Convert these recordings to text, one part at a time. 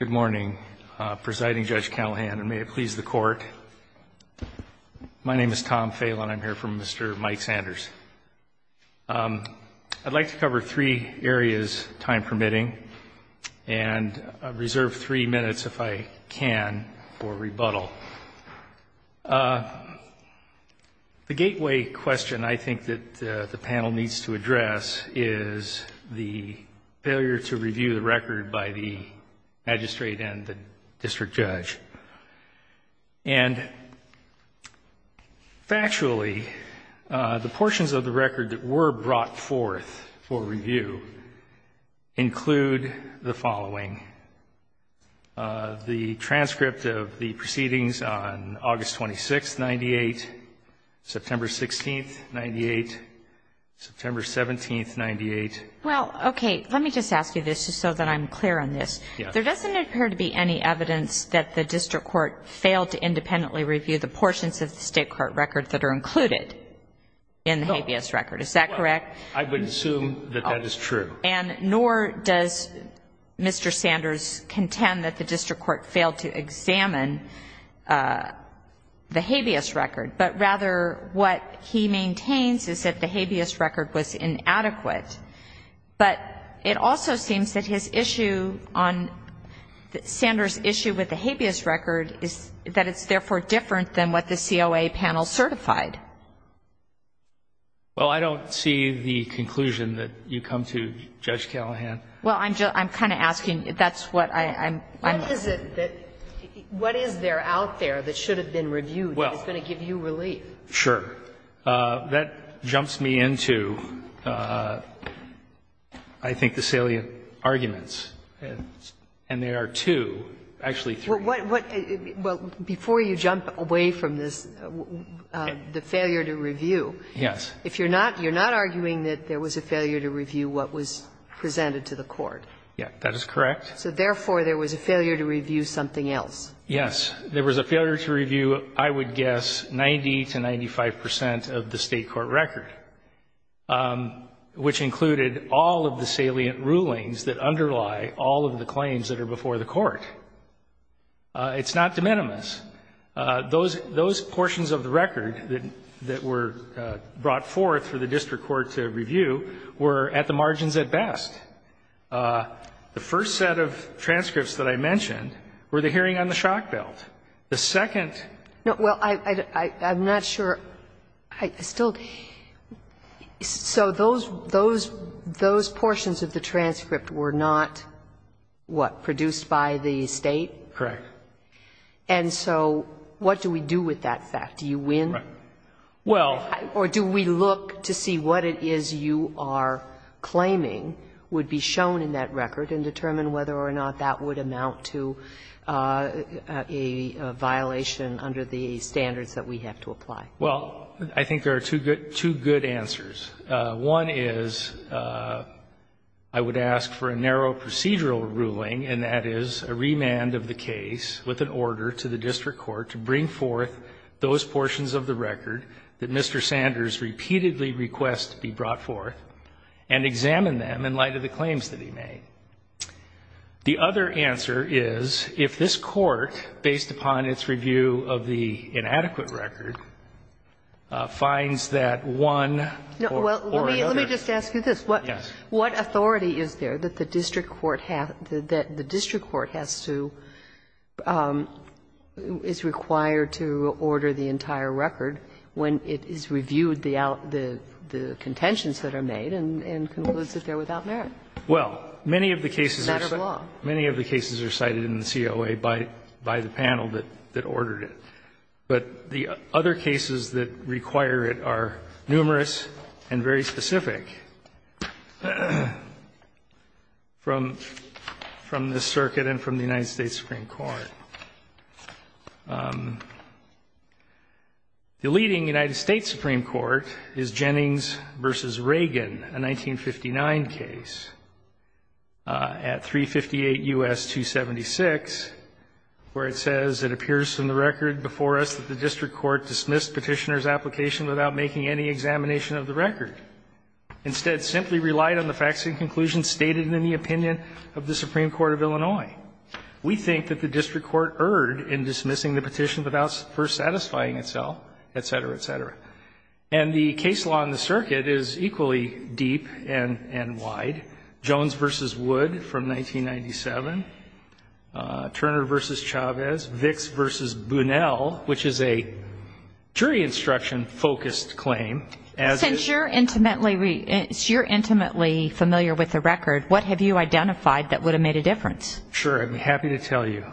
Good morning, Presiding Judge Callahan, and may it please the Court. My name is Tom Phelan. I'm here from Mr. Mike Sanders. I'd like to cover three areas, time permitting, and reserve three minutes if I can for rebuttal. The gateway question I think that the panel needs to address is the failure to review the record by the magistrate and the district judge. And factually, the portions of the record that were brought forth for review include the following. The transcript of the proceedings on August 26th, 98, September 16th, 98, September 17th, 98. I'm not sure if that's the case. Well, okay. Let me just ask you this just so that I'm clear on this. Yes. There doesn't appear to be any evidence that the district court failed to independently review the portions of the State court record that are included in the habeas record. Is that correct? I would assume that that is true. And nor does Mr. Sanders contend that the district court failed to examine the habeas record, but rather what he maintains is that the habeas record was inadequate. But it also seems that his issue on Sanders' issue with the habeas record is that it's therefore different than what the COA panel certified. Well, I don't see the conclusion that you come to, Judge Callahan. Well, I'm kind of asking if that's what I'm questioning. What is it that — what is there out there that should have been reviewed that is going to give you relief? Well, sure. That jumps me into, I think, the salient arguments. And there are two, actually three. Well, before you jump away from this, the failure to review. Yes. If you're not — you're not arguing that there was a failure to review what was presented to the court. Yes, that is correct. So therefore, there was a failure to review something else. Yes. There was a failure to review, I would guess, 90 to 95 percent of the State court record, which included all of the salient rulings that underlie all of the claims that are before the court. It's not de minimis. Those portions of the record that were brought forth for the district court to review were at the margins at best. The first set of transcripts that I mentioned were the hearing on the shock belt. The second — No, well, I'm not sure. I still — so those portions of the transcript were not, what, produced by the State? Correct. And so what do we do with that fact? Do you win? Well — Or do we look to see what it is you are claiming would be shown in that record and determine whether or not that would amount to a violation under the standards that we have to apply? Well, I think there are two good answers. One is I would ask for a narrow procedural ruling, and that is a remand of the case with an order to the district court to bring forth those portions of the record that Mr. Sanders repeatedly requests to be brought forth and examine them in light of the claims that he made. The other answer is if this Court, based upon its review of the inadequate record, finds that one or another — No. Well, let me just ask you this. Yes. What authority is there that the district court has to — is required to order the entire record when it is reviewed the contentions that are made and concludes that they are without merit? Well, many of the cases are cited in the COA by the panel that ordered it. But the other cases that require it are numerous and very specific from this circuit and from the United States Supreme Court. The leading United States Supreme Court is Jennings v. Reagan, a 1959 case. At 358 U.S. 276, where it says, It appears from the record before us that the district court dismissed petitioner's application without making any examination of the record. Instead, simply relied on the facts and conclusions stated in the opinion of the Supreme Court of Illinois. We think that the district court erred in dismissing the petition without first satisfying itself, et cetera, et cetera. And the case law in the circuit is equally deep and wide. Jones v. Wood from 1997, Turner v. Chavez, Vicks v. Bunnell, which is a jury instruction-focused claim. Since you're intimately familiar with the record, what have you identified that would have made a difference? Sure. I'm happy to tell you.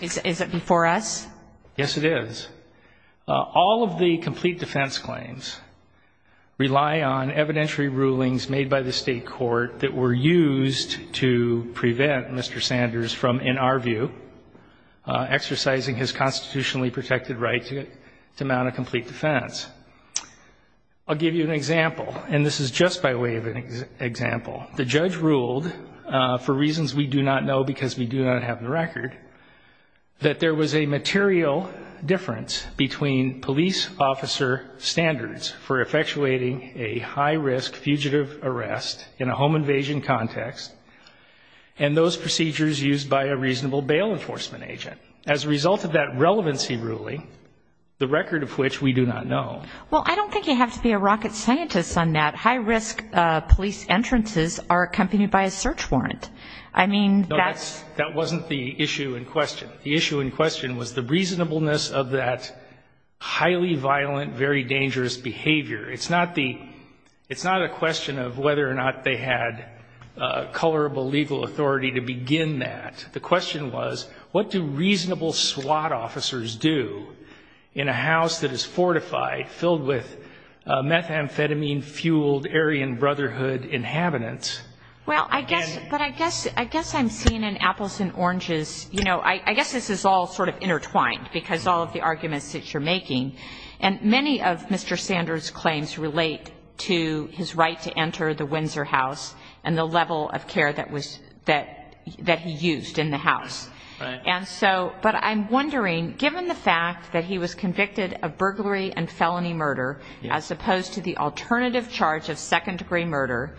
Is it before us? Yes, it is. All of the complete defense claims rely on evidentiary rulings made by the state court that were used to prevent Mr. Sanders from, in our view, exercising his constitutionally protected right to mount a complete defense. I'll give you an example, and this is just by way of an example. The judge ruled, for reasons we do not know because we do not have the record, that there was a material difference between police officer standards for effectuating a high-risk fugitive arrest in a home invasion context and those procedures used by a reasonable bail enforcement agent. As a result of that relevancy ruling, the record of which we do not know. Well, I don't think you have to be a rocket scientist on that. High-risk police entrances are accompanied by a search warrant. That wasn't the issue in question. The issue in question was the reasonableness of that highly violent, very dangerous behavior. It's not a question of whether or not they had colorable legal authority to begin that. The question was, what do reasonable SWAT officers do in a house that is fortified, filled with methamphetamine-fueled Aryan Brotherhood inhabitants? Well, I guess I'm seeing an apples and oranges. You know, I guess this is all sort of intertwined, because all of the arguments that you're making. And many of Mr. Sanders' claims relate to his right to enter the Windsor House and the level of care that he used in the house. And so, but I'm wondering, given the fact that he was convicted of burglary and felony murder, as opposed to the alternative charge of second-degree murder,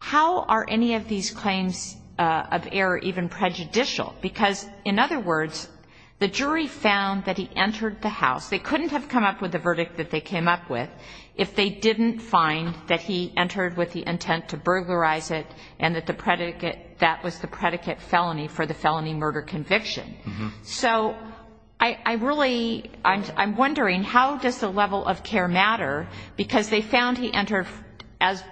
how are any of these claims of error even prejudicial? Because, in other words, the jury found that he entered the house. They couldn't have come up with a verdict that they came up with if they didn't find that he entered with the intent to burglarize it and that the predicate that was the predicate felony for the felony murder conviction. So I really, I'm wondering, how does the level of care matter? Because they found he entered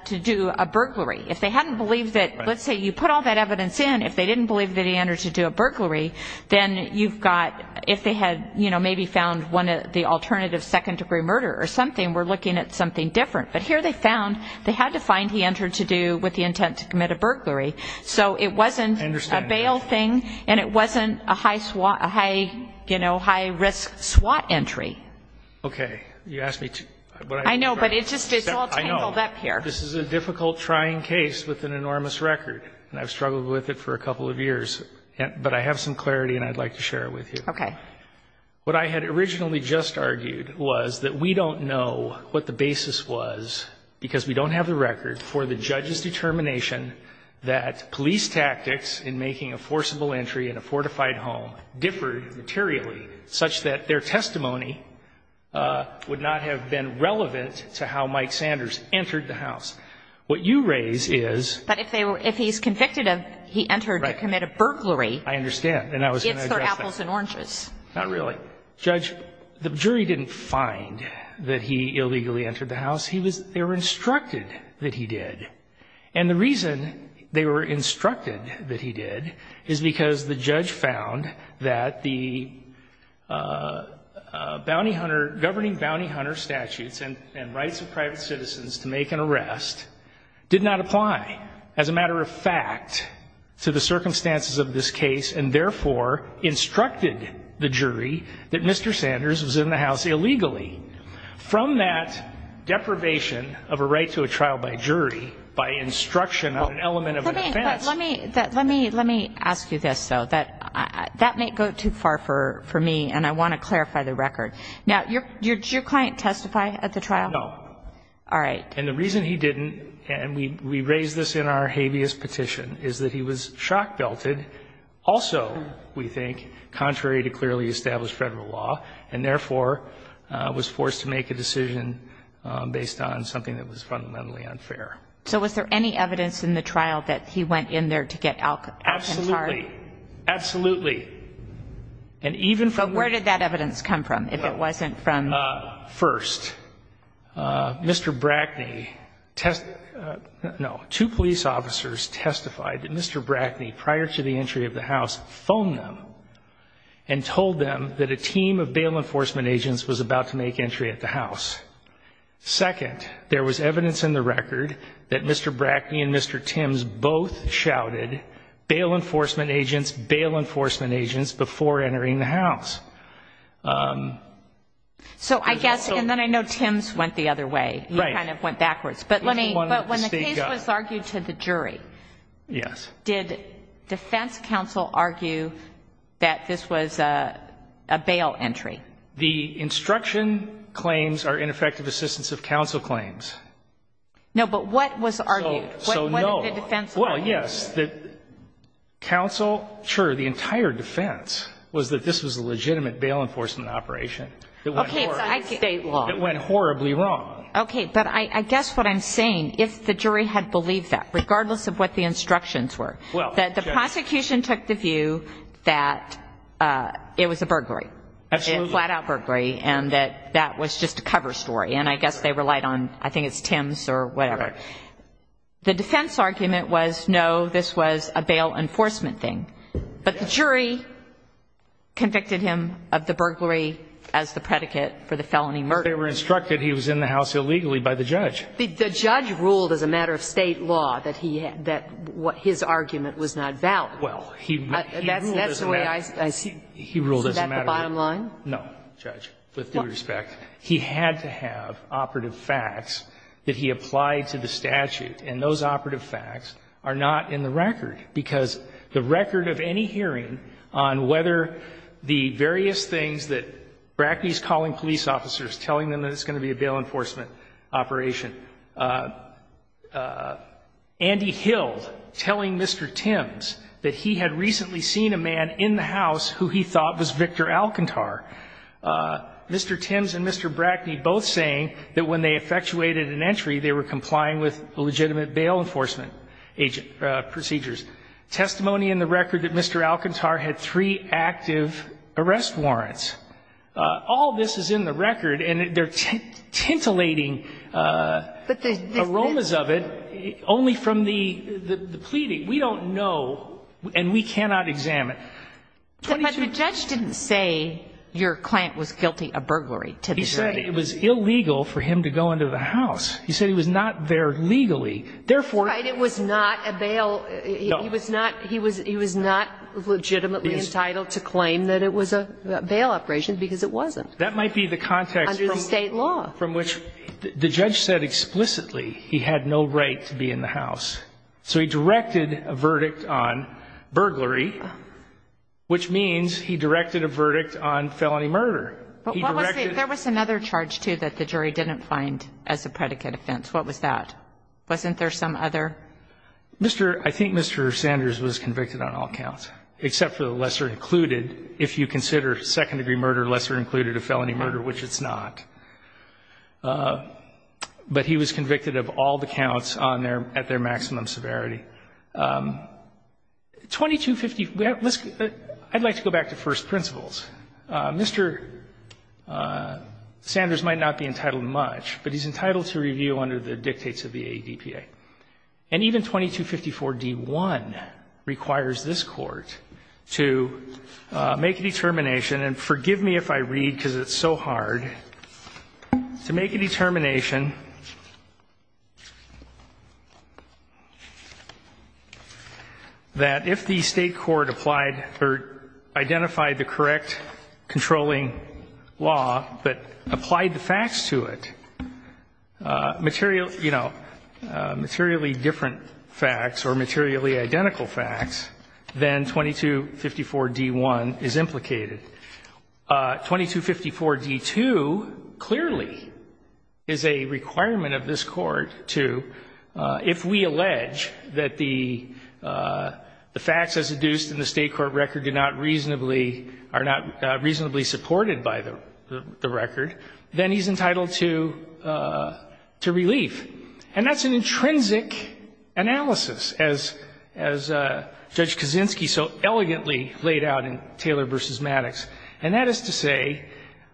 to do a burglary. If they hadn't believed that, let's say you put all that evidence in, if they didn't believe that he entered to do a burglary, then you've got, if they had maybe found the alternative second-degree murder or something, we're looking at something different. But here they found they had to find he entered to do with the intent to commit a burglary. So it wasn't a bail thing, and it wasn't a high-risk SWAT entry. Okay. You asked me to... I know, but it's all tangled up here. I know. This is a difficult, trying case with an enormous record, and I've struggled with it for a couple of years. But I have some clarity, and I'd like to share it with you. Okay. What I had originally just argued was that we don't know what the basis was because we don't have the record for the judge's determination that police tactics in making a forcible entry in a fortified home differed materially such that their testimony would not have been relevant to how Mike Sanders entered the house. What you raise is... But if he's convicted of he entered to commit a burglary... Right. I understand. And I was going to address that. It's for apples and oranges. Not really. Judge, the jury didn't find that he illegally entered the house. They were instructed that he did. And the reason they were instructed that he did is because the judge found that the governing bounty hunter statutes and rights of private citizens to make an arrest did not apply as a matter of fact to the circumstances of this case and therefore instructed the jury that Mr. Sanders was in the house illegally. From that deprivation of a right to a trial by jury by instruction on an element of defense... That's too far for me, and I want to clarify the record. Now, did your client testify at the trial? No. All right. And the reason he didn't, and we raise this in our habeas petition, is that he was shock-belted also, we think, contrary to clearly established federal law, and therefore was forced to make a decision based on something that was fundamentally unfair. So was there any evidence in the trial that he went in there to get Alcantara? Absolutely. Absolutely. But where did that evidence come from, if it wasn't from... First, Mr. Brackney, no, two police officers testified that Mr. Brackney, prior to the entry of the house, phoned them and told them that a team of bail enforcement agents was about to make entry at the house. Second, there was evidence in the record that Mr. Brackney and Mr. Tims both shouted, bail enforcement agents, bail enforcement agents, before entering the house. So I guess, and then I know Tims went the other way. Right. He kind of went backwards. But when the case was argued to the jury... Yes. ...did defense counsel argue that this was a bail entry? The instruction claims are ineffective assistance of counsel claims. No, but what was argued? So no. What did the defense argue? Well, yes, that counsel, sure, the entire defense was that this was a legitimate bail enforcement operation that went horribly wrong. Okay, but I guess what I'm saying, if the jury had believed that, regardless of what the instructions were, that the prosecution took the view that it was a burglary, a flat-out burglary, and that that was just a cover story, and I guess they relied on, I think it's Tims or whatever. Right. The defense argument was, no, this was a bail enforcement thing. Yes. But the jury convicted him of the burglary as the predicate for the felony murder. But they were instructed he was in the house illegally by the judge. The judge ruled as a matter of State law that his argument was not valid. Well, he ruled as a matter of... That's the way I see it. He ruled as a matter of... Is that the bottom line? No, Judge, with due respect. He had to have operative facts that he applied to the statute, and those operative facts are not in the record, because the record of any hearing on whether the various things that Brackney's calling police officers, telling them that it's going to be a bail enforcement operation, Andy Hill telling Mr. Tims that he had recently seen a man in the house who he thought was Victor Alcantar. Mr. Tims and Mr. Brackney both saying that when they effectuated an entry, they were complying with legitimate bail enforcement procedures. Testimony in the record that Mr. Alcantar had three active arrest warrants. All this is in the record, and they're tintillating aromas of it only from the pleading. We don't know, and we cannot examine. But the judge didn't say your client was guilty of burglary to the degree. He said it was illegal for him to go into the house. He said he was not there legally, therefore... Right, it was not a bail. He was not legitimately entitled to claim that it was a bail operation, because it wasn't. That might be the context... Under the state law. From which the judge said explicitly he had no right to be in the house. So he had no right. Which means he directed a verdict on felony murder. There was another charge, too, that the jury didn't find as a predicate offense. What was that? Wasn't there some other? I think Mr. Sanders was convicted on all counts, except for the lesser included. If you consider second-degree murder lesser included of felony murder, which it's not. But he was convicted of all the counts at their maximum severity. I'd like to go back to first principles. Mr. Sanders might not be entitled much, but he's entitled to review under the dictates of the AEDPA. And even 2254d-1 requires this Court to make a determination, and forgive me if I read because it's so hard, to make a determination that if the State court applied or identified the correct controlling law, but applied the facts to it, materially different facts or materially identical facts, then 2254d-1 is implicated. 2254d-2 clearly is a requirement of this Court to, if we allege that the facts as adduced in the State court record are not reasonably supported by the record, then he's entitled to relief. And that's an intrinsic analysis, as Judge Kaczynski so elegantly laid out in Taylor v. Maddox. And that is to say,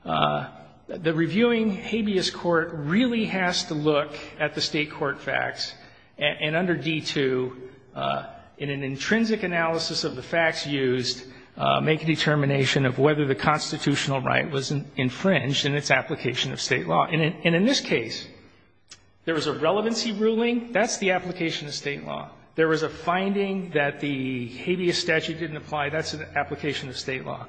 the reviewing habeas court really has to look at the State court facts and under 2254d-2, in an intrinsic analysis of the facts used, make a determination of whether the constitutional right was infringed in its application of State law. And in this case, there was a relevancy ruling. That's the application of State law. There was a finding that the habeas statute didn't apply. That's an application of State law.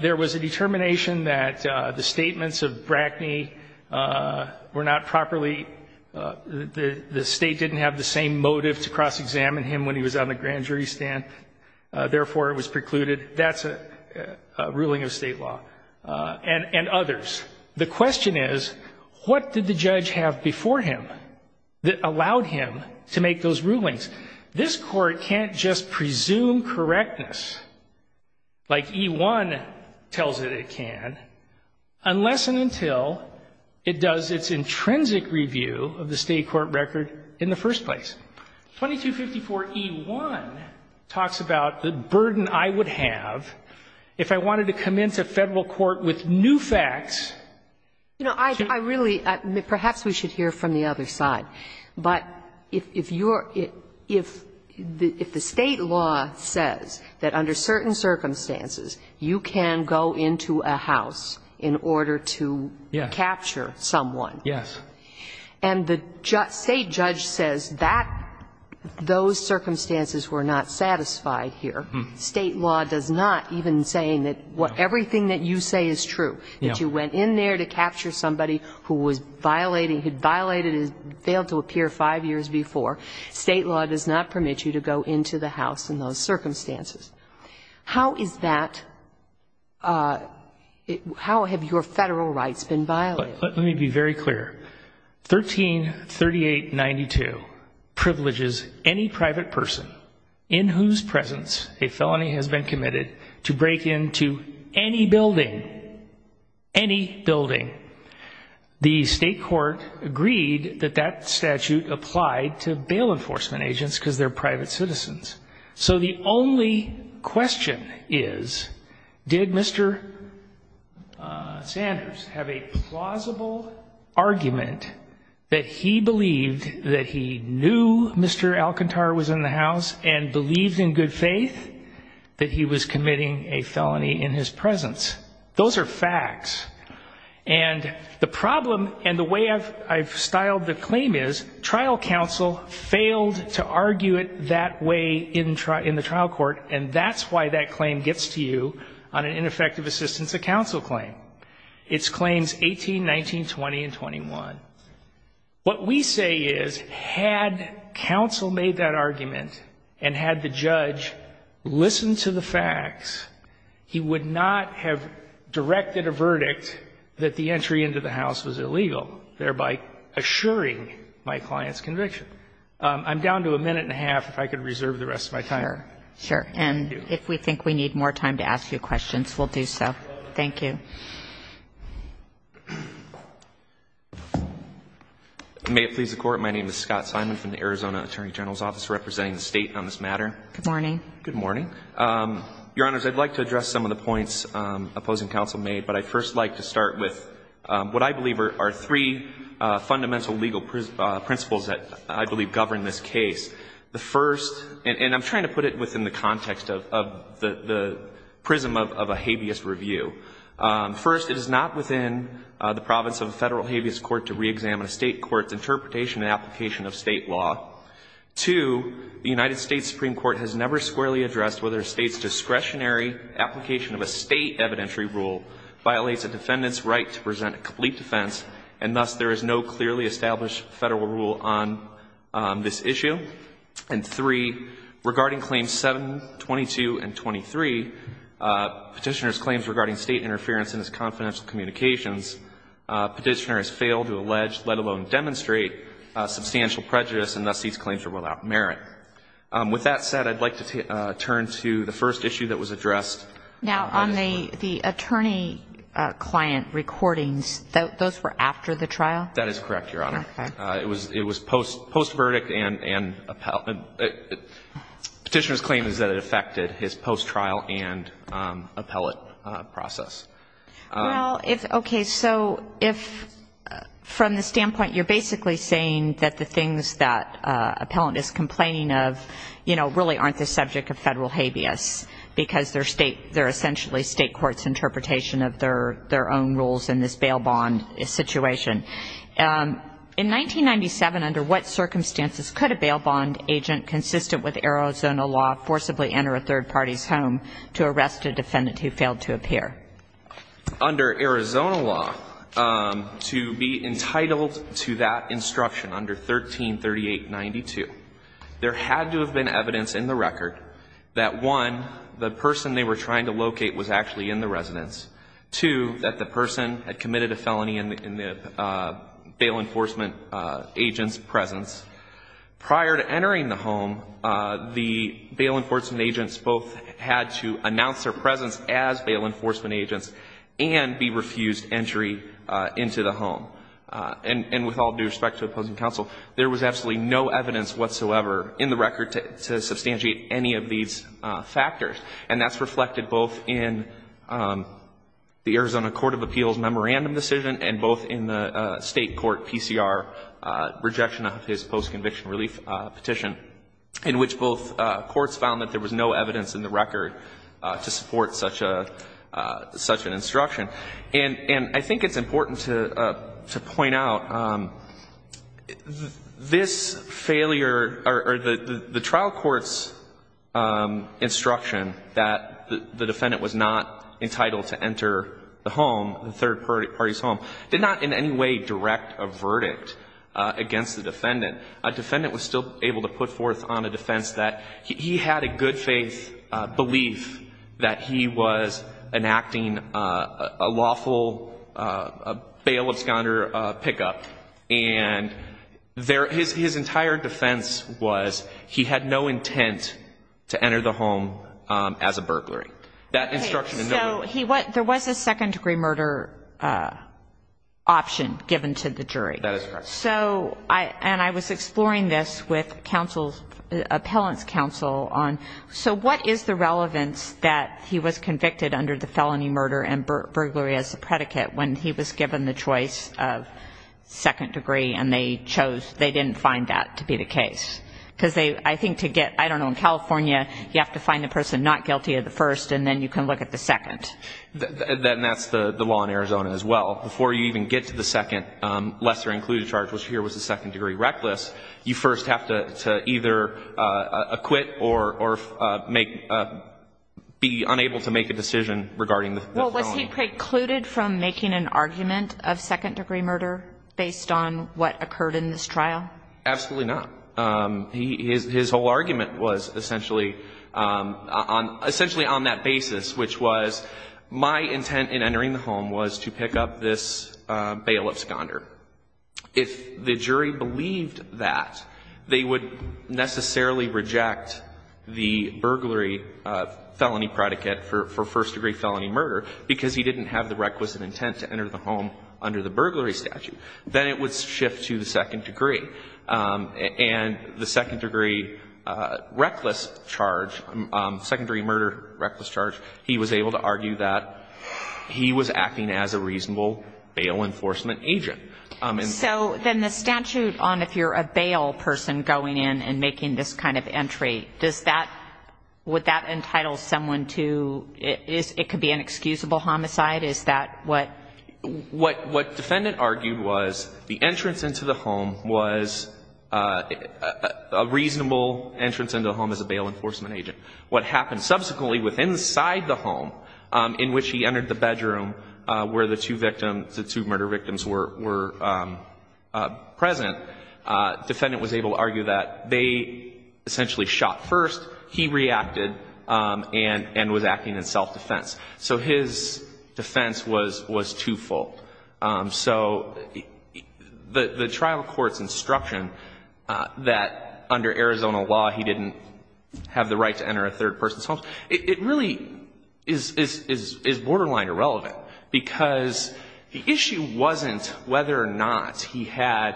There was a determination that the statements of Brackney were not properly, the State didn't have the same motive to cross-examine him when he was on the grand jury stand, therefore it was precluded. That's a ruling of State law. And others. The question is, what did the judge have before him that allowed him to make those rulings? This Court can't just presume correctness like E-1 tells it it can unless and until it does its intrinsic review of the State court record in the first place. 2254e-1 talks about the burden I would have if I wanted to commence a Federal court with new facts. You know, I really, perhaps we should hear from the other side. But if you're, if the State law says that under certain circumstances, you can go into a house in order to capture someone. Yes. And the State judge says that those circumstances were not satisfied here. State law does not, even saying that everything that you say is true, that you went in there to capture somebody who was violating, had violated and failed to appear five years before, State law does not permit you to go into the house in those circumstances. How is that, how have your Federal rights been violated? Let me be very clear. 133892 privileges any private person in whose presence a felony has been committed to break into any building, any building. The State court agreed that that statute applied to bail enforcement agents because they're private citizens. So the only question is, did Mr. Sanders have a plausible argument that he believed that he knew Mr. Alcantara was in the house and believed in good faith that he was committing a felony in his presence? Those are facts. And the problem and the way I've styled the claim is, trial counsel failed to argue it that way in the trial court, and that's why that claim gets to you on an ineffective assistance of counsel claim. It's claims 18, 19, 20 and 21. What we say is, had counsel made that argument and had the judge listened to the facts, he would not have directed a verdict that the entry into the house was illegal, thereby assuring my client's conviction. I'm down to a minute and a half if I could reserve the rest of my time. Sure. Thank you. And if we think we need more time to ask you questions, we'll do so. Thank you. May it please the Court, my name is Scott Simon from the Arizona Attorney General's Office representing the State on this matter. Good morning. Good morning. Your Honors, I'd like to address some of the points opposing counsel made, but I'd first like to start with what I believe are three fundamental legal principles that I believe govern this case. The first, and I'm trying to put it within the context of the prism of a habeas review. First, it is not within the province of a Federal habeas court to reexamine a State court's interpretation and application of State law. Two, the United States Supreme Court has never squarely addressed whether a State's discretionary application of a State evidentiary rule violates a defendant's right to present a complete defense, and thus there is no clearly established Federal rule on this issue. And three, regarding Claims 722 and 23, Petitioner's claims regarding State interference in his confidential communications, Petitioner has failed to allege, let alone demonstrate, substantial prejudice, and thus these claims are without merit. With that said, I'd like to turn to the first issue that was addressed last week. Now, on the attorney-client recordings, those were after the trial? That is correct, Your Honor. Okay. It was post-verdict and Petitioner's claim is that it affected his post-trial and appellate process. Well, if, okay, so if from the standpoint you're basically saying that the things that appellant is complaining of, you know, really aren't the subject of Federal habeas because they're State, they're essentially State court's interpretation of their own rules in this bail bond situation. In 1997, under what circumstances could a bail bond agent consistent with Arizona law forcibly enter a third party's home to arrest a defendant who failed to appear? Under Arizona law, to be entitled to that instruction under 1338.92, there had to have been evidence in the record that, one, the person they were trying to locate was actually in the residence, two, that the person had committed a felony in the bail enforcement agent's presence. Prior to entering the home, the bail enforcement agents both had to announce their presence as bail enforcement agents and be refused entry into the home. And with all due respect to opposing counsel, there was absolutely no evidence whatsoever in the record to substantiate any of these factors. And that's reflected both in the Arizona Court of Appeals memorandum decision and both in the State court PCR rejection of his post-conviction relief petition, in which both courts found that there was no evidence in the record to support such an instruction. And I think it's important to point out, this failure or the trial court's instruction that the defendant was not entitled to enter the home, the third party's home, did not in any way direct a verdict against the defendant. A defendant was still able to put forth on a defense that he had a good faith belief that he was enacting a lawful bail absconder pickup. And his entire defense was he had no intent to enter the home as a burglary. That instruction is not relevant. So there was a second-degree murder option given to the jury. And I was exploring this with appellant's counsel on, so what is the relevance that he was convicted under the felony murder and burglary as a predicate when he was given the choice of second degree and they chose, they didn't find that to be the case? Because I think to get, I don't know, in California, you have to find the person not guilty of the first and then you can look at the second. Then that's the law in Arizona as well. Before you even get to the second lesser included charge, which here was the second-degree reckless, you first have to either acquit or make, be unable to make a decision regarding the felony. Well, was he precluded from making an argument of second-degree murder based on what occurred in this trial? Absolutely not. His whole argument was essentially on that basis, which was my intent in entering the home was to pick up this bail of sconder. If the jury believed that, they would necessarily reject the burglary felony predicate for first-degree felony murder because he didn't have the requisite intent to enter the home under the burglary statute. Then it would shift to the second degree. And the second-degree reckless charge, second-degree murder reckless charge, he was able to argue that he was acting as a reasonable bail enforcement agent. So then the statute on if you're a bail person going in and making this kind of entry, does that, would that entitle someone to, it could be an excusable homicide, is that what? What defendant argued was the entrance into the home was a reasonable entrance into the home as a bail enforcement agent. What happened subsequently with inside the home in which he entered the bedroom where the two victims, the two murder victims were present, defendant was able to argue that they essentially shot first, he reacted, and was acting in self-defense. So his defense was twofold. So the trial court's instruction that under Arizona law he didn't have the right to enter a third person's home, it really is borderline irrelevant because the issue wasn't whether or not he had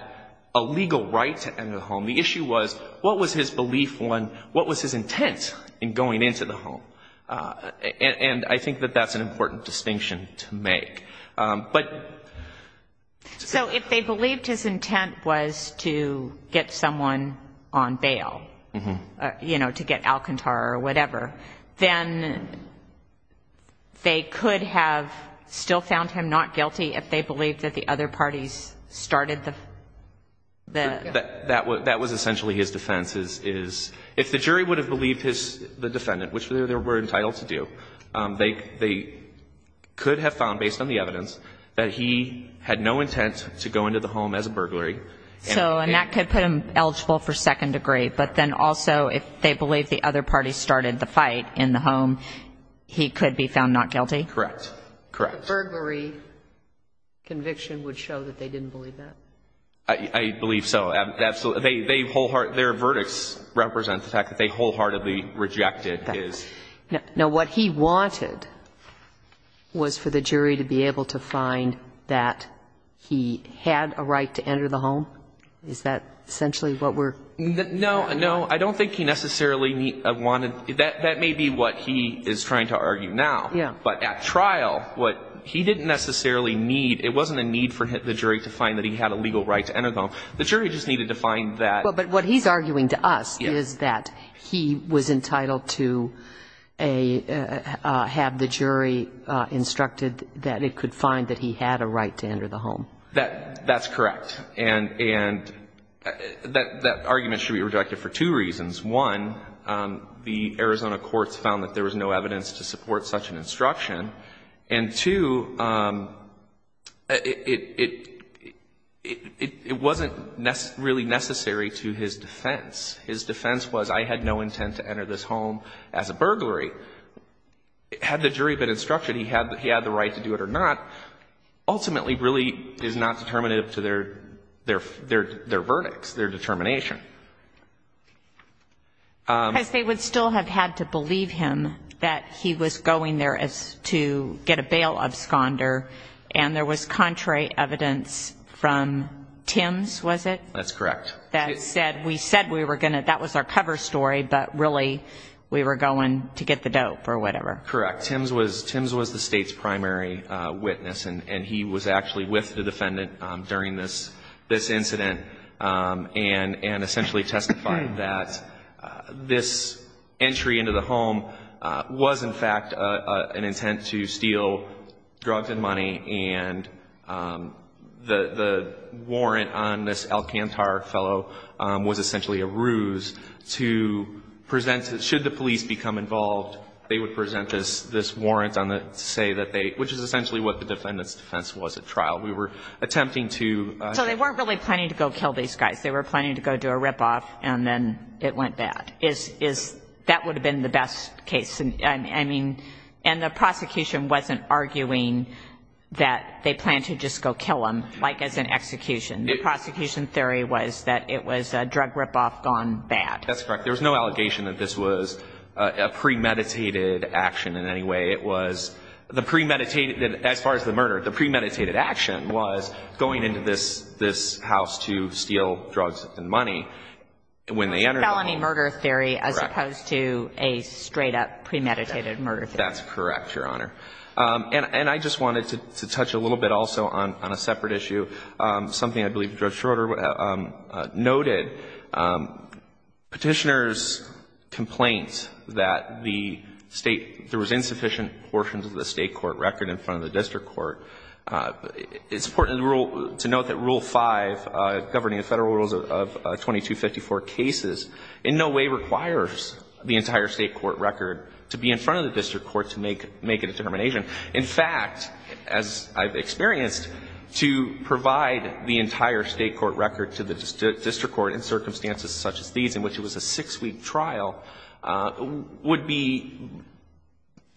a legal right to enter the home. The issue was what was his belief when, what was his intent in going into the home? And I think that that's an important distinction to make. But... So if they believed his intent was to get someone on bail, you know, to get Alcantara or whatever, then they could have still found him not guilty if they believed that the other parties started the... That was essentially his defense, is if the jury would have believed the defendant, which they were entitled to do, they could have found, based on the evidence, that he had no intent to go into the home as a burglary. So and that could put him eligible for second degree. But then also if they believed the other parties started the fight in the home, he could be found not guilty? Correct. Correct. A burglary conviction would show that they didn't believe that? I believe so. Absolutely. Their verdicts represent the fact that they wholeheartedly rejected his... Now, what he wanted was for the jury to be able to find that he had a right to enter the home? Is that essentially what we're... No, no. I don't think he necessarily wanted... That may be what he is trying to argue now. Yeah. But at trial, what he didn't necessarily need... It wasn't a need for the jury to find that he had a legal right to enter the home. The jury just needed to find that... But what he's arguing to us is that he was entitled to have the jury instructed that it could find that he had a right to enter the home. That's correct. And that argument should be rejected for two reasons. One, the Arizona courts found that there was no evidence to support such an instruction. And two, it wasn't really necessary to his defense. His defense was, I had no intent to enter this home as a burglary. Had the jury been instructed he had the right to do it or not, ultimately really is not determinative to their verdicts, their determination. Because they would still have had to believe him that he was going there to get a bail of squander and there was contrary evidence from Tim's, was it? That's correct. That said, we said we were going to... That was our cover story, but really we were going to get the dope or whatever. Correct. Tim's was the state's primary witness, and he was actually with the defendant during this incident and essentially testified that this entry into the home was, in fact, an intent to steal drugs and money. And the warrant on this Alcantar fellow was essentially a ruse to present, should the police become involved, they would present this warrant to say that they, which is essentially what the defendant's defense was at trial. We were attempting to... They were planning to go do a rip-off and then it went bad. That would have been the best case. I mean, and the prosecution wasn't arguing that they planned to just go kill him, like as an execution. The prosecution theory was that it was a drug rip-off gone bad. That's correct. There was no allegation that this was a premeditated action in any way. It was the premeditated, as far as the murder, the premeditated action was going into this house to steal drugs and money when they entered the home. It was a felony murder theory as opposed to a straight-up premeditated murder theory. That's correct, Your Honor. And I just wanted to touch a little bit also on a separate issue, something I believe Judge Schroeder noted. Petitioners' complaints that the State, there was insufficient portions of the State court record in front of the district court. It's important to note that Rule 5, governing the Federal rules of 2254 cases, in no way requires the entire State court record to be in front of the district court to make a determination. In fact, as I've experienced, to provide the entire State court record to the district court in circumstances such as these, in which it was a six-week trial, would be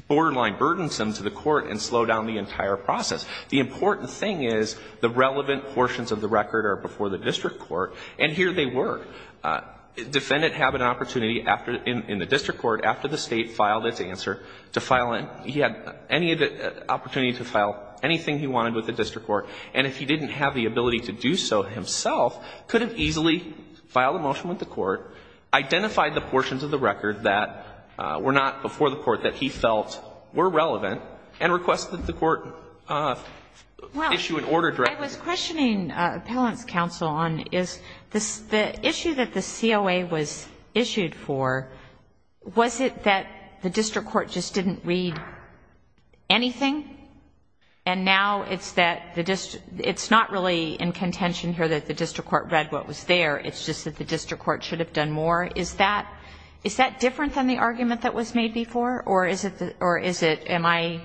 borderline burdensome to the court and slow down the entire process. The important thing is the relevant portions of the record are before the district court, and here they were. Defendant had an opportunity in the district court, after the State filed its answer, to file it, he had any opportunity to file anything he wanted with the district court, and if he didn't have the ability to do so himself, could have easily filed a motion with the court, identified the portions of the record that were not before the court that he felt were relevant, and requested that the court issue an order directly. Well, I was questioning appellant's counsel on is the issue that the COA was issued for, was it that the district court just didn't read anything, and now it's not really in contention here that the district court read what was there, it's just that the district court should have done more? Is that different than the argument that was made before, or am I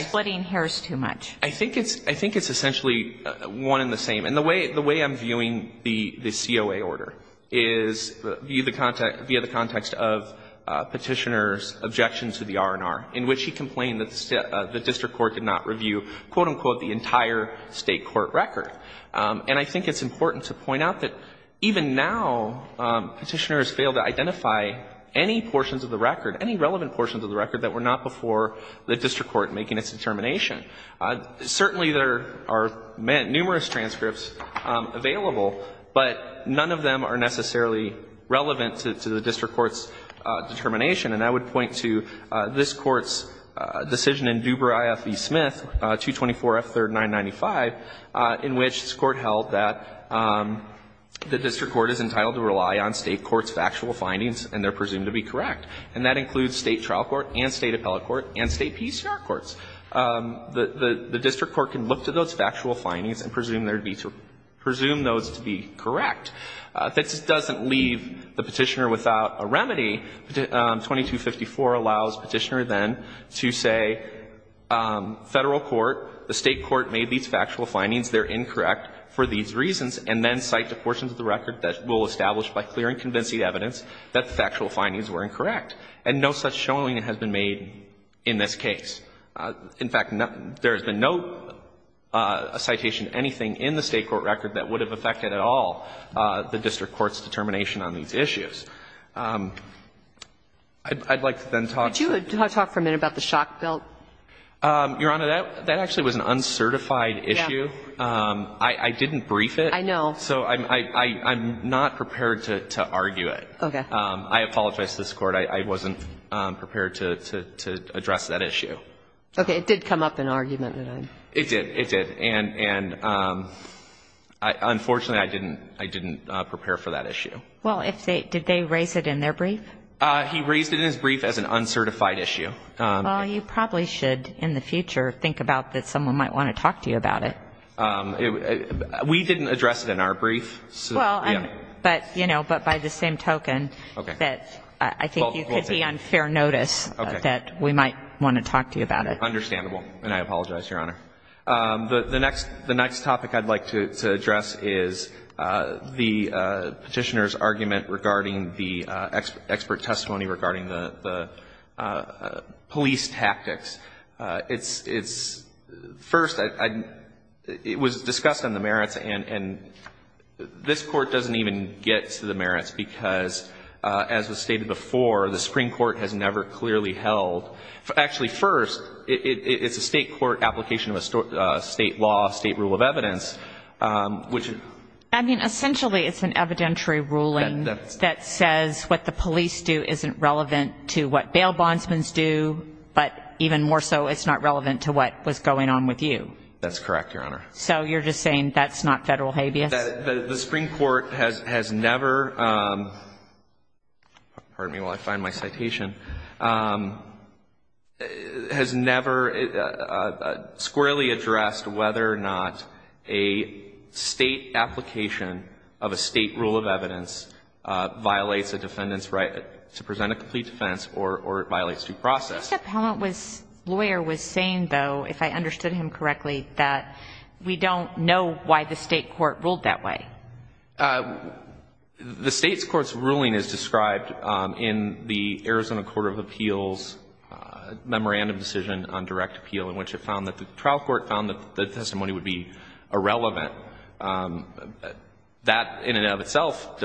splitting hairs too much? I think it's essentially one and the same. And the way I'm viewing the COA order is via the context of Petitioner's objection to the R&R, in which he complained that the district court did not review, quote, unquote, the entire State court record. And I think it's important to point out that even now Petitioner has failed to identify any portions of the record, any relevant portions of the record that were not before the district court making its determination. Certainly, there are numerous transcripts available, but none of them are necessarily relevant to the district court's determination. And I would point to this Court's decision in Duber, I.F.E. Smith, 224F3995, in which this Court held that the district court is entitled to rely on State courts' factual findings, and they're presumed to be correct. And that includes State trial court and State appellate court and State PCR courts. The district court can look to those factual findings and presume those to be correct. This doesn't leave the Petitioner without a remedy. 2254 allows Petitioner then to say, Federal court, the State court made these factual findings, they're incorrect for these reasons, and then cite the portions of the record that will establish by clear and convincing evidence that the factual findings were incorrect. And no such showing has been made in this case. In fact, there has been no citation of anything in the State court record that would have affected at all the district court's determination on these issues. I'd like to then talk to the ---- Could you talk for a minute about the shock belt? Your Honor, that actually was an uncertified issue. Yeah. I didn't brief it. I know. So I'm not prepared to argue it. Okay. I apologize to this Court. I wasn't prepared to address that issue. Okay. It did come up in argument. It did. It did. And unfortunately, I didn't prepare for that issue. Well, did they raise it in their brief? He raised it in his brief as an uncertified issue. Well, you probably should in the future think about that someone might want to talk to you about it. We didn't address it in our brief. Well, but, you know, but by the same token that I think you could be on fair notice that we might want to talk to you about it. Understandable. And I apologize, Your Honor. The next topic I'd like to address is the Petitioner's argument regarding the expert testimony regarding the police tactics. First, it was discussed in the merits, and this Court doesn't even get to the merits because, as was stated before, the Supreme Court has never clearly held. Actually, first, it's a state court application of a state law, state rule of evidence, which — I mean, essentially, it's an evidentiary ruling that says what the police do isn't relevant to what bail bondsmen do, but even more so, it's not relevant to what was going on with you. That's correct, Your Honor. So you're just saying that's not federal habeas? The Supreme Court has never — pardon me while I find my citation — has never squarely addressed whether or not a state application of a state rule of evidence violates a complete defense or violates due process. Mr. Pellant's lawyer was saying, though, if I understood him correctly, that we don't know why the state court ruled that way. The state court's ruling is described in the Arizona Court of Appeals memorandum decision on direct appeal in which it found that the trial court found that the testimony would be irrelevant. That, in and of itself,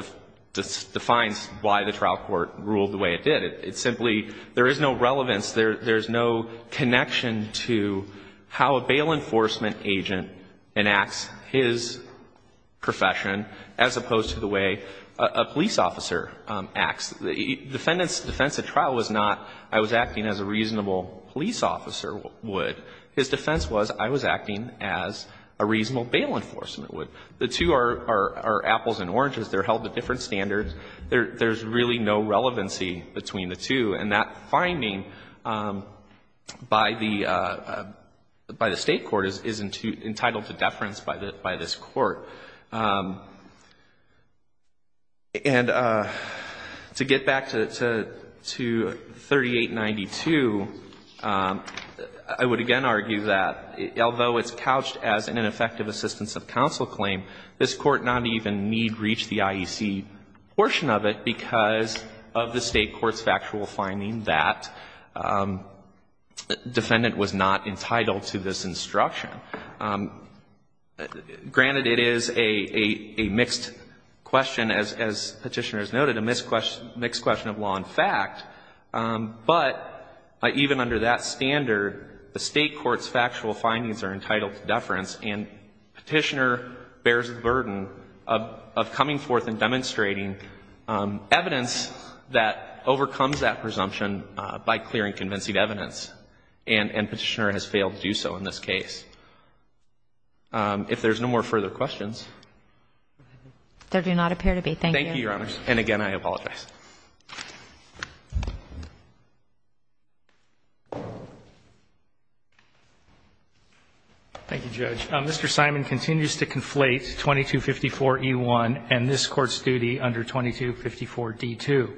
defines why the trial court ruled the way it did. It simply — there is no relevance, there's no connection to how a bail enforcement agent enacts his profession as opposed to the way a police officer acts. The defendant's defense at trial was not, I was acting as a reasonable police officer would. His defense was, I was acting as a reasonable bail enforcement would. The two are apples and oranges. They're held at different standards. There's really no relevancy between the two. And that finding by the state court is entitled to deference by this court. And to get back to 3892, I would again argue that although it's couched as an ineffective assistance of counsel claim, this Court not even need reach the IEC portion of it because of the state court's factual finding that defendant was not entitled to this instruction. Granted, it is a mixed question, as Petitioner has noted, a mixed question of law and fact. But even under that standard, the state court's factual findings are entitled to deference and Petitioner bears the burden of coming forth and demonstrating evidence that overcomes that presumption by clearing convincing evidence. And Petitioner has failed to do so in this case. If there's no more further questions. There do not appear to be. Thank you, Your Honors. And again, I apologize. Thank you, Judge. Mr. Simon continues to conflate 2254E1 and this Court's duty under 2254D2.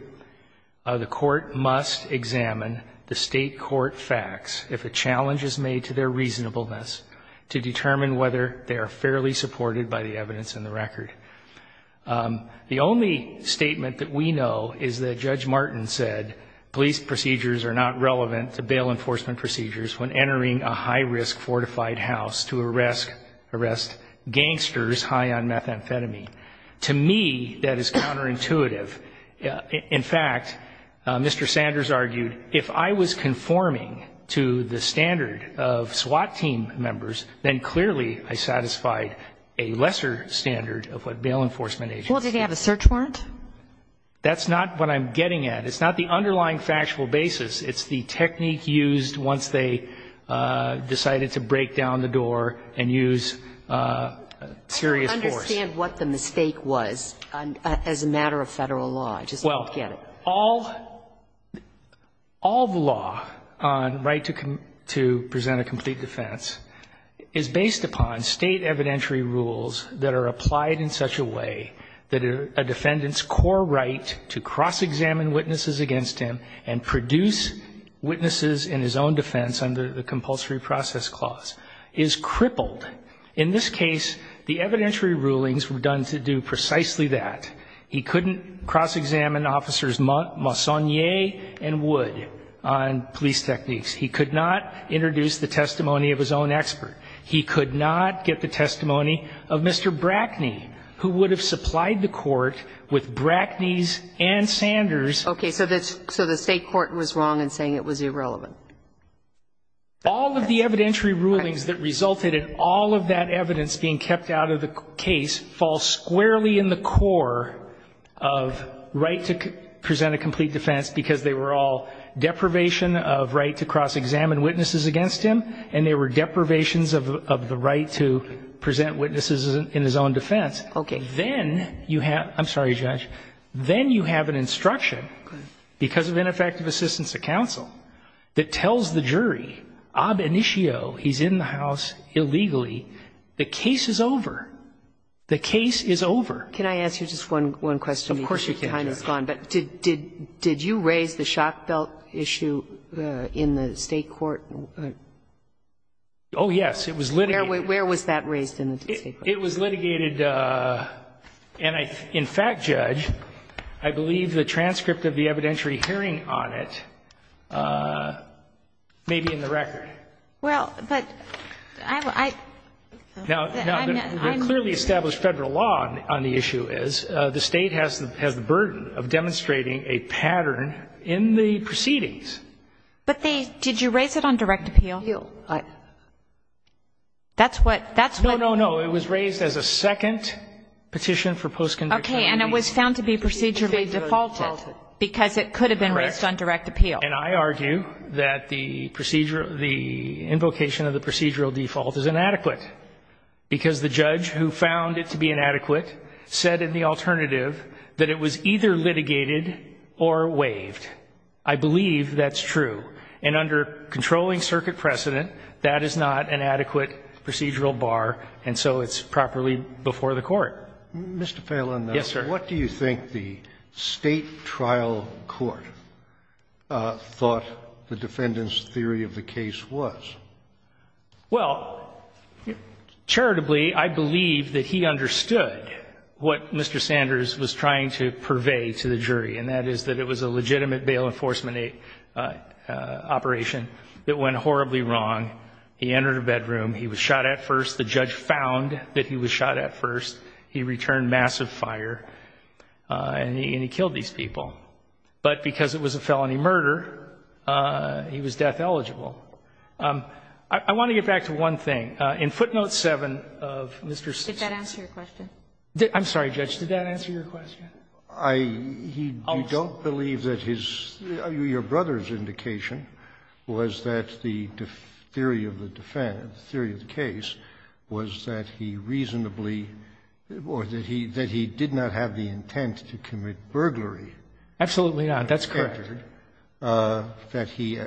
The Court must examine the state court facts if a challenge is made to their reasonableness to determine whether they are fairly supported by the evidence in the record. The only statement that we know is that Judge Martin said police procedures are not relevant to bail enforcement procedures when entering a high-risk fortified house to arrest gangsters high on methamphetamine. To me, that is counterintuitive. In fact, Mr. Sanders argued, if I was conforming to the standard of SWAT team members, then clearly I satisfied a lesser standard of what bail enforcement agencies do. Well, did he have a search warrant? That's not what I'm getting at. It's not the underlying factual basis. It's the technique used once they decided to break down the door and use serious force. I don't understand what the mistake was as a matter of Federal law. I just don't get it. Well, all the law on right to present a complete defense is based upon State evidentiary rules that are applied in such a way that a defendant's core right to cross-examine witnesses against him and produce witnesses in his own defense under the compulsory process clause is crippled. In this case, the evidentiary rulings were done to do precisely that. He couldn't cross-examine Officers Massonnier and Wood on police techniques. He could not introduce the testimony of his own expert. He could not get the testimony of Mr. Brackney, who would have supplied the court with Brackney's and Sanders'---- Okay. So the State court was wrong in saying it was irrelevant. All of the evidentiary rulings that resulted in all of that evidence being kept out of the case fall squarely in the core of right to present a complete defense because they were all deprivation of right to cross-examine witnesses against him and they were deprivations of the right to present witnesses in his own defense. Okay. Then you have, I'm sorry, Judge, then you have an instruction because of ineffective assistance of counsel that tells the jury, ob initio, he's in the house illegally, the case is over. The case is over. Can I ask you just one question? Of course you can, Judge. But did you raise the shock belt issue in the State court? Oh, yes. It was litigated. Where was that raised in the State court? It was litigated, and in fact, Judge, I believe the transcript of the evidentiary hearing on it may be in the record. Well, but I'm not going to. Now, the clearly established Federal law on the issue is the State has the burden of demonstrating a pattern in the proceedings. But they, did you raise it on direct appeal? Yes. That's what. No, no, no. It was raised as a second petition for post-conviction. Okay. And it was found to be procedurally defaulted because it could have been raised on direct appeal. Correct. And I argue that the procedure, the invocation of the procedural default is inadequate because the judge who found it to be inadequate said in the alternative that it was either litigated or waived. I believe that's true. And under controlling circuit precedent, that is not an adequate procedural bar, and so it's properly before the Court. Mr. Phelan. Yes, sir. What do you think the State trial court thought the defendant's theory of the case was? Well, charitably, I believe that he understood what Mr. Sanders was trying to purvey to the jury, and that is that it was a legitimate bail enforcement operation that went horribly wrong. He entered a bedroom. He was shot at first. The judge found that he was shot at first. He returned massive fire, and he killed these people. But because it was a felony murder, he was death eligible. I want to get back to one thing. In footnote 7 of Mr. Sanders' case. Did that answer your question? I'm sorry, Judge. Did that answer your question? I don't believe that his or your brother's indication was that the theory of the case was that he reasonably, or that he did not have the intent to commit burglary. Absolutely not. That's correct. That he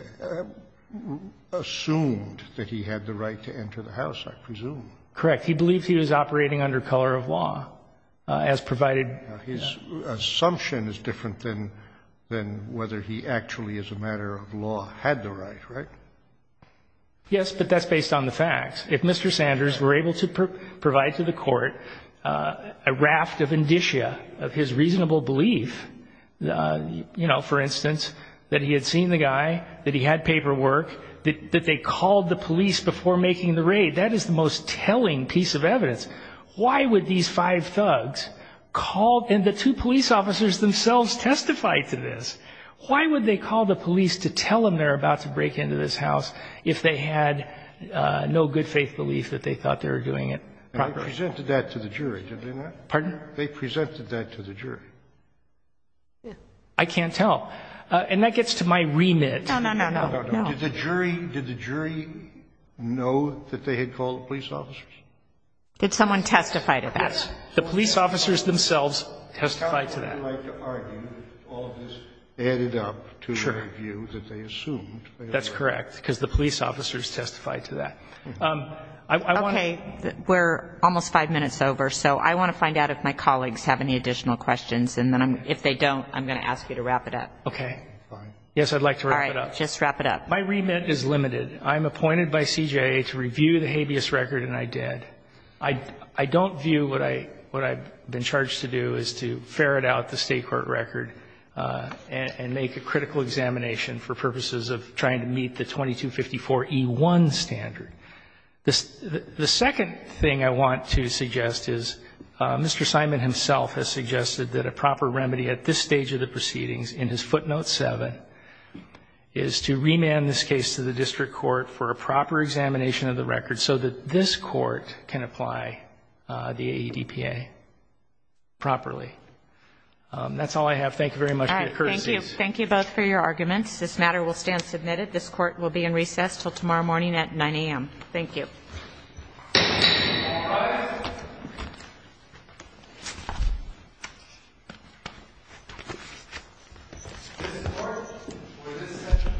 assumed that he had the right to enter the house, I presume. Correct. He believed he was operating under color of law, as provided. His assumption is different than whether he actually, as a matter of law, had the right, right? Yes, but that's based on the facts. If Mr. Sanders were able to provide to the court a raft of indicia of his reasonable belief, you know, for instance, that he had seen the guy, that he had paperwork, that they called the police before making the raid, that is the most telling piece of evidence. Why would these five thugs call, and the two police officers themselves testified to this, why would they call the police to tell them they're about to break into this house if they had no good faith belief that they thought they were doing it properly? They presented that to the jury, did they not? Pardon? They presented that to the jury. I can't tell. And that gets to my remit. No, no, no, no. Did the jury know that they had called the police officers? Did someone testify to that? The police officers themselves testified to that. I would like to argue that all of this added up to the review that they assumed. That's correct, because the police officers testified to that. Okay. We're almost five minutes over, so I want to find out if my colleagues have any additional questions, and then if they don't, I'm going to ask you to wrap it up. Okay. Fine. Yes, I'd like to wrap it up. All right. Just wrap it up. My remit is limited. I'm appointed by CJA to review the habeas record, and I did. I don't view what I've been charged to do as to ferret out the State court record and make a critical examination for purposes of trying to meet the 2254E1 standard. The second thing I want to suggest is Mr. Simon himself has suggested that a proper remedy at this stage of the proceedings, in his footnote 7, is to remand this case to the district court for a proper examination of the record so that this court can apply the AEDPA properly. That's all I have. Thank you very much for your courtesy. All right. Thank you. Thank you both for your arguments. This matter will stand submitted. This Court will be in recess until tomorrow morning at 9 a.m. Thank you. All rise. This Court for this session.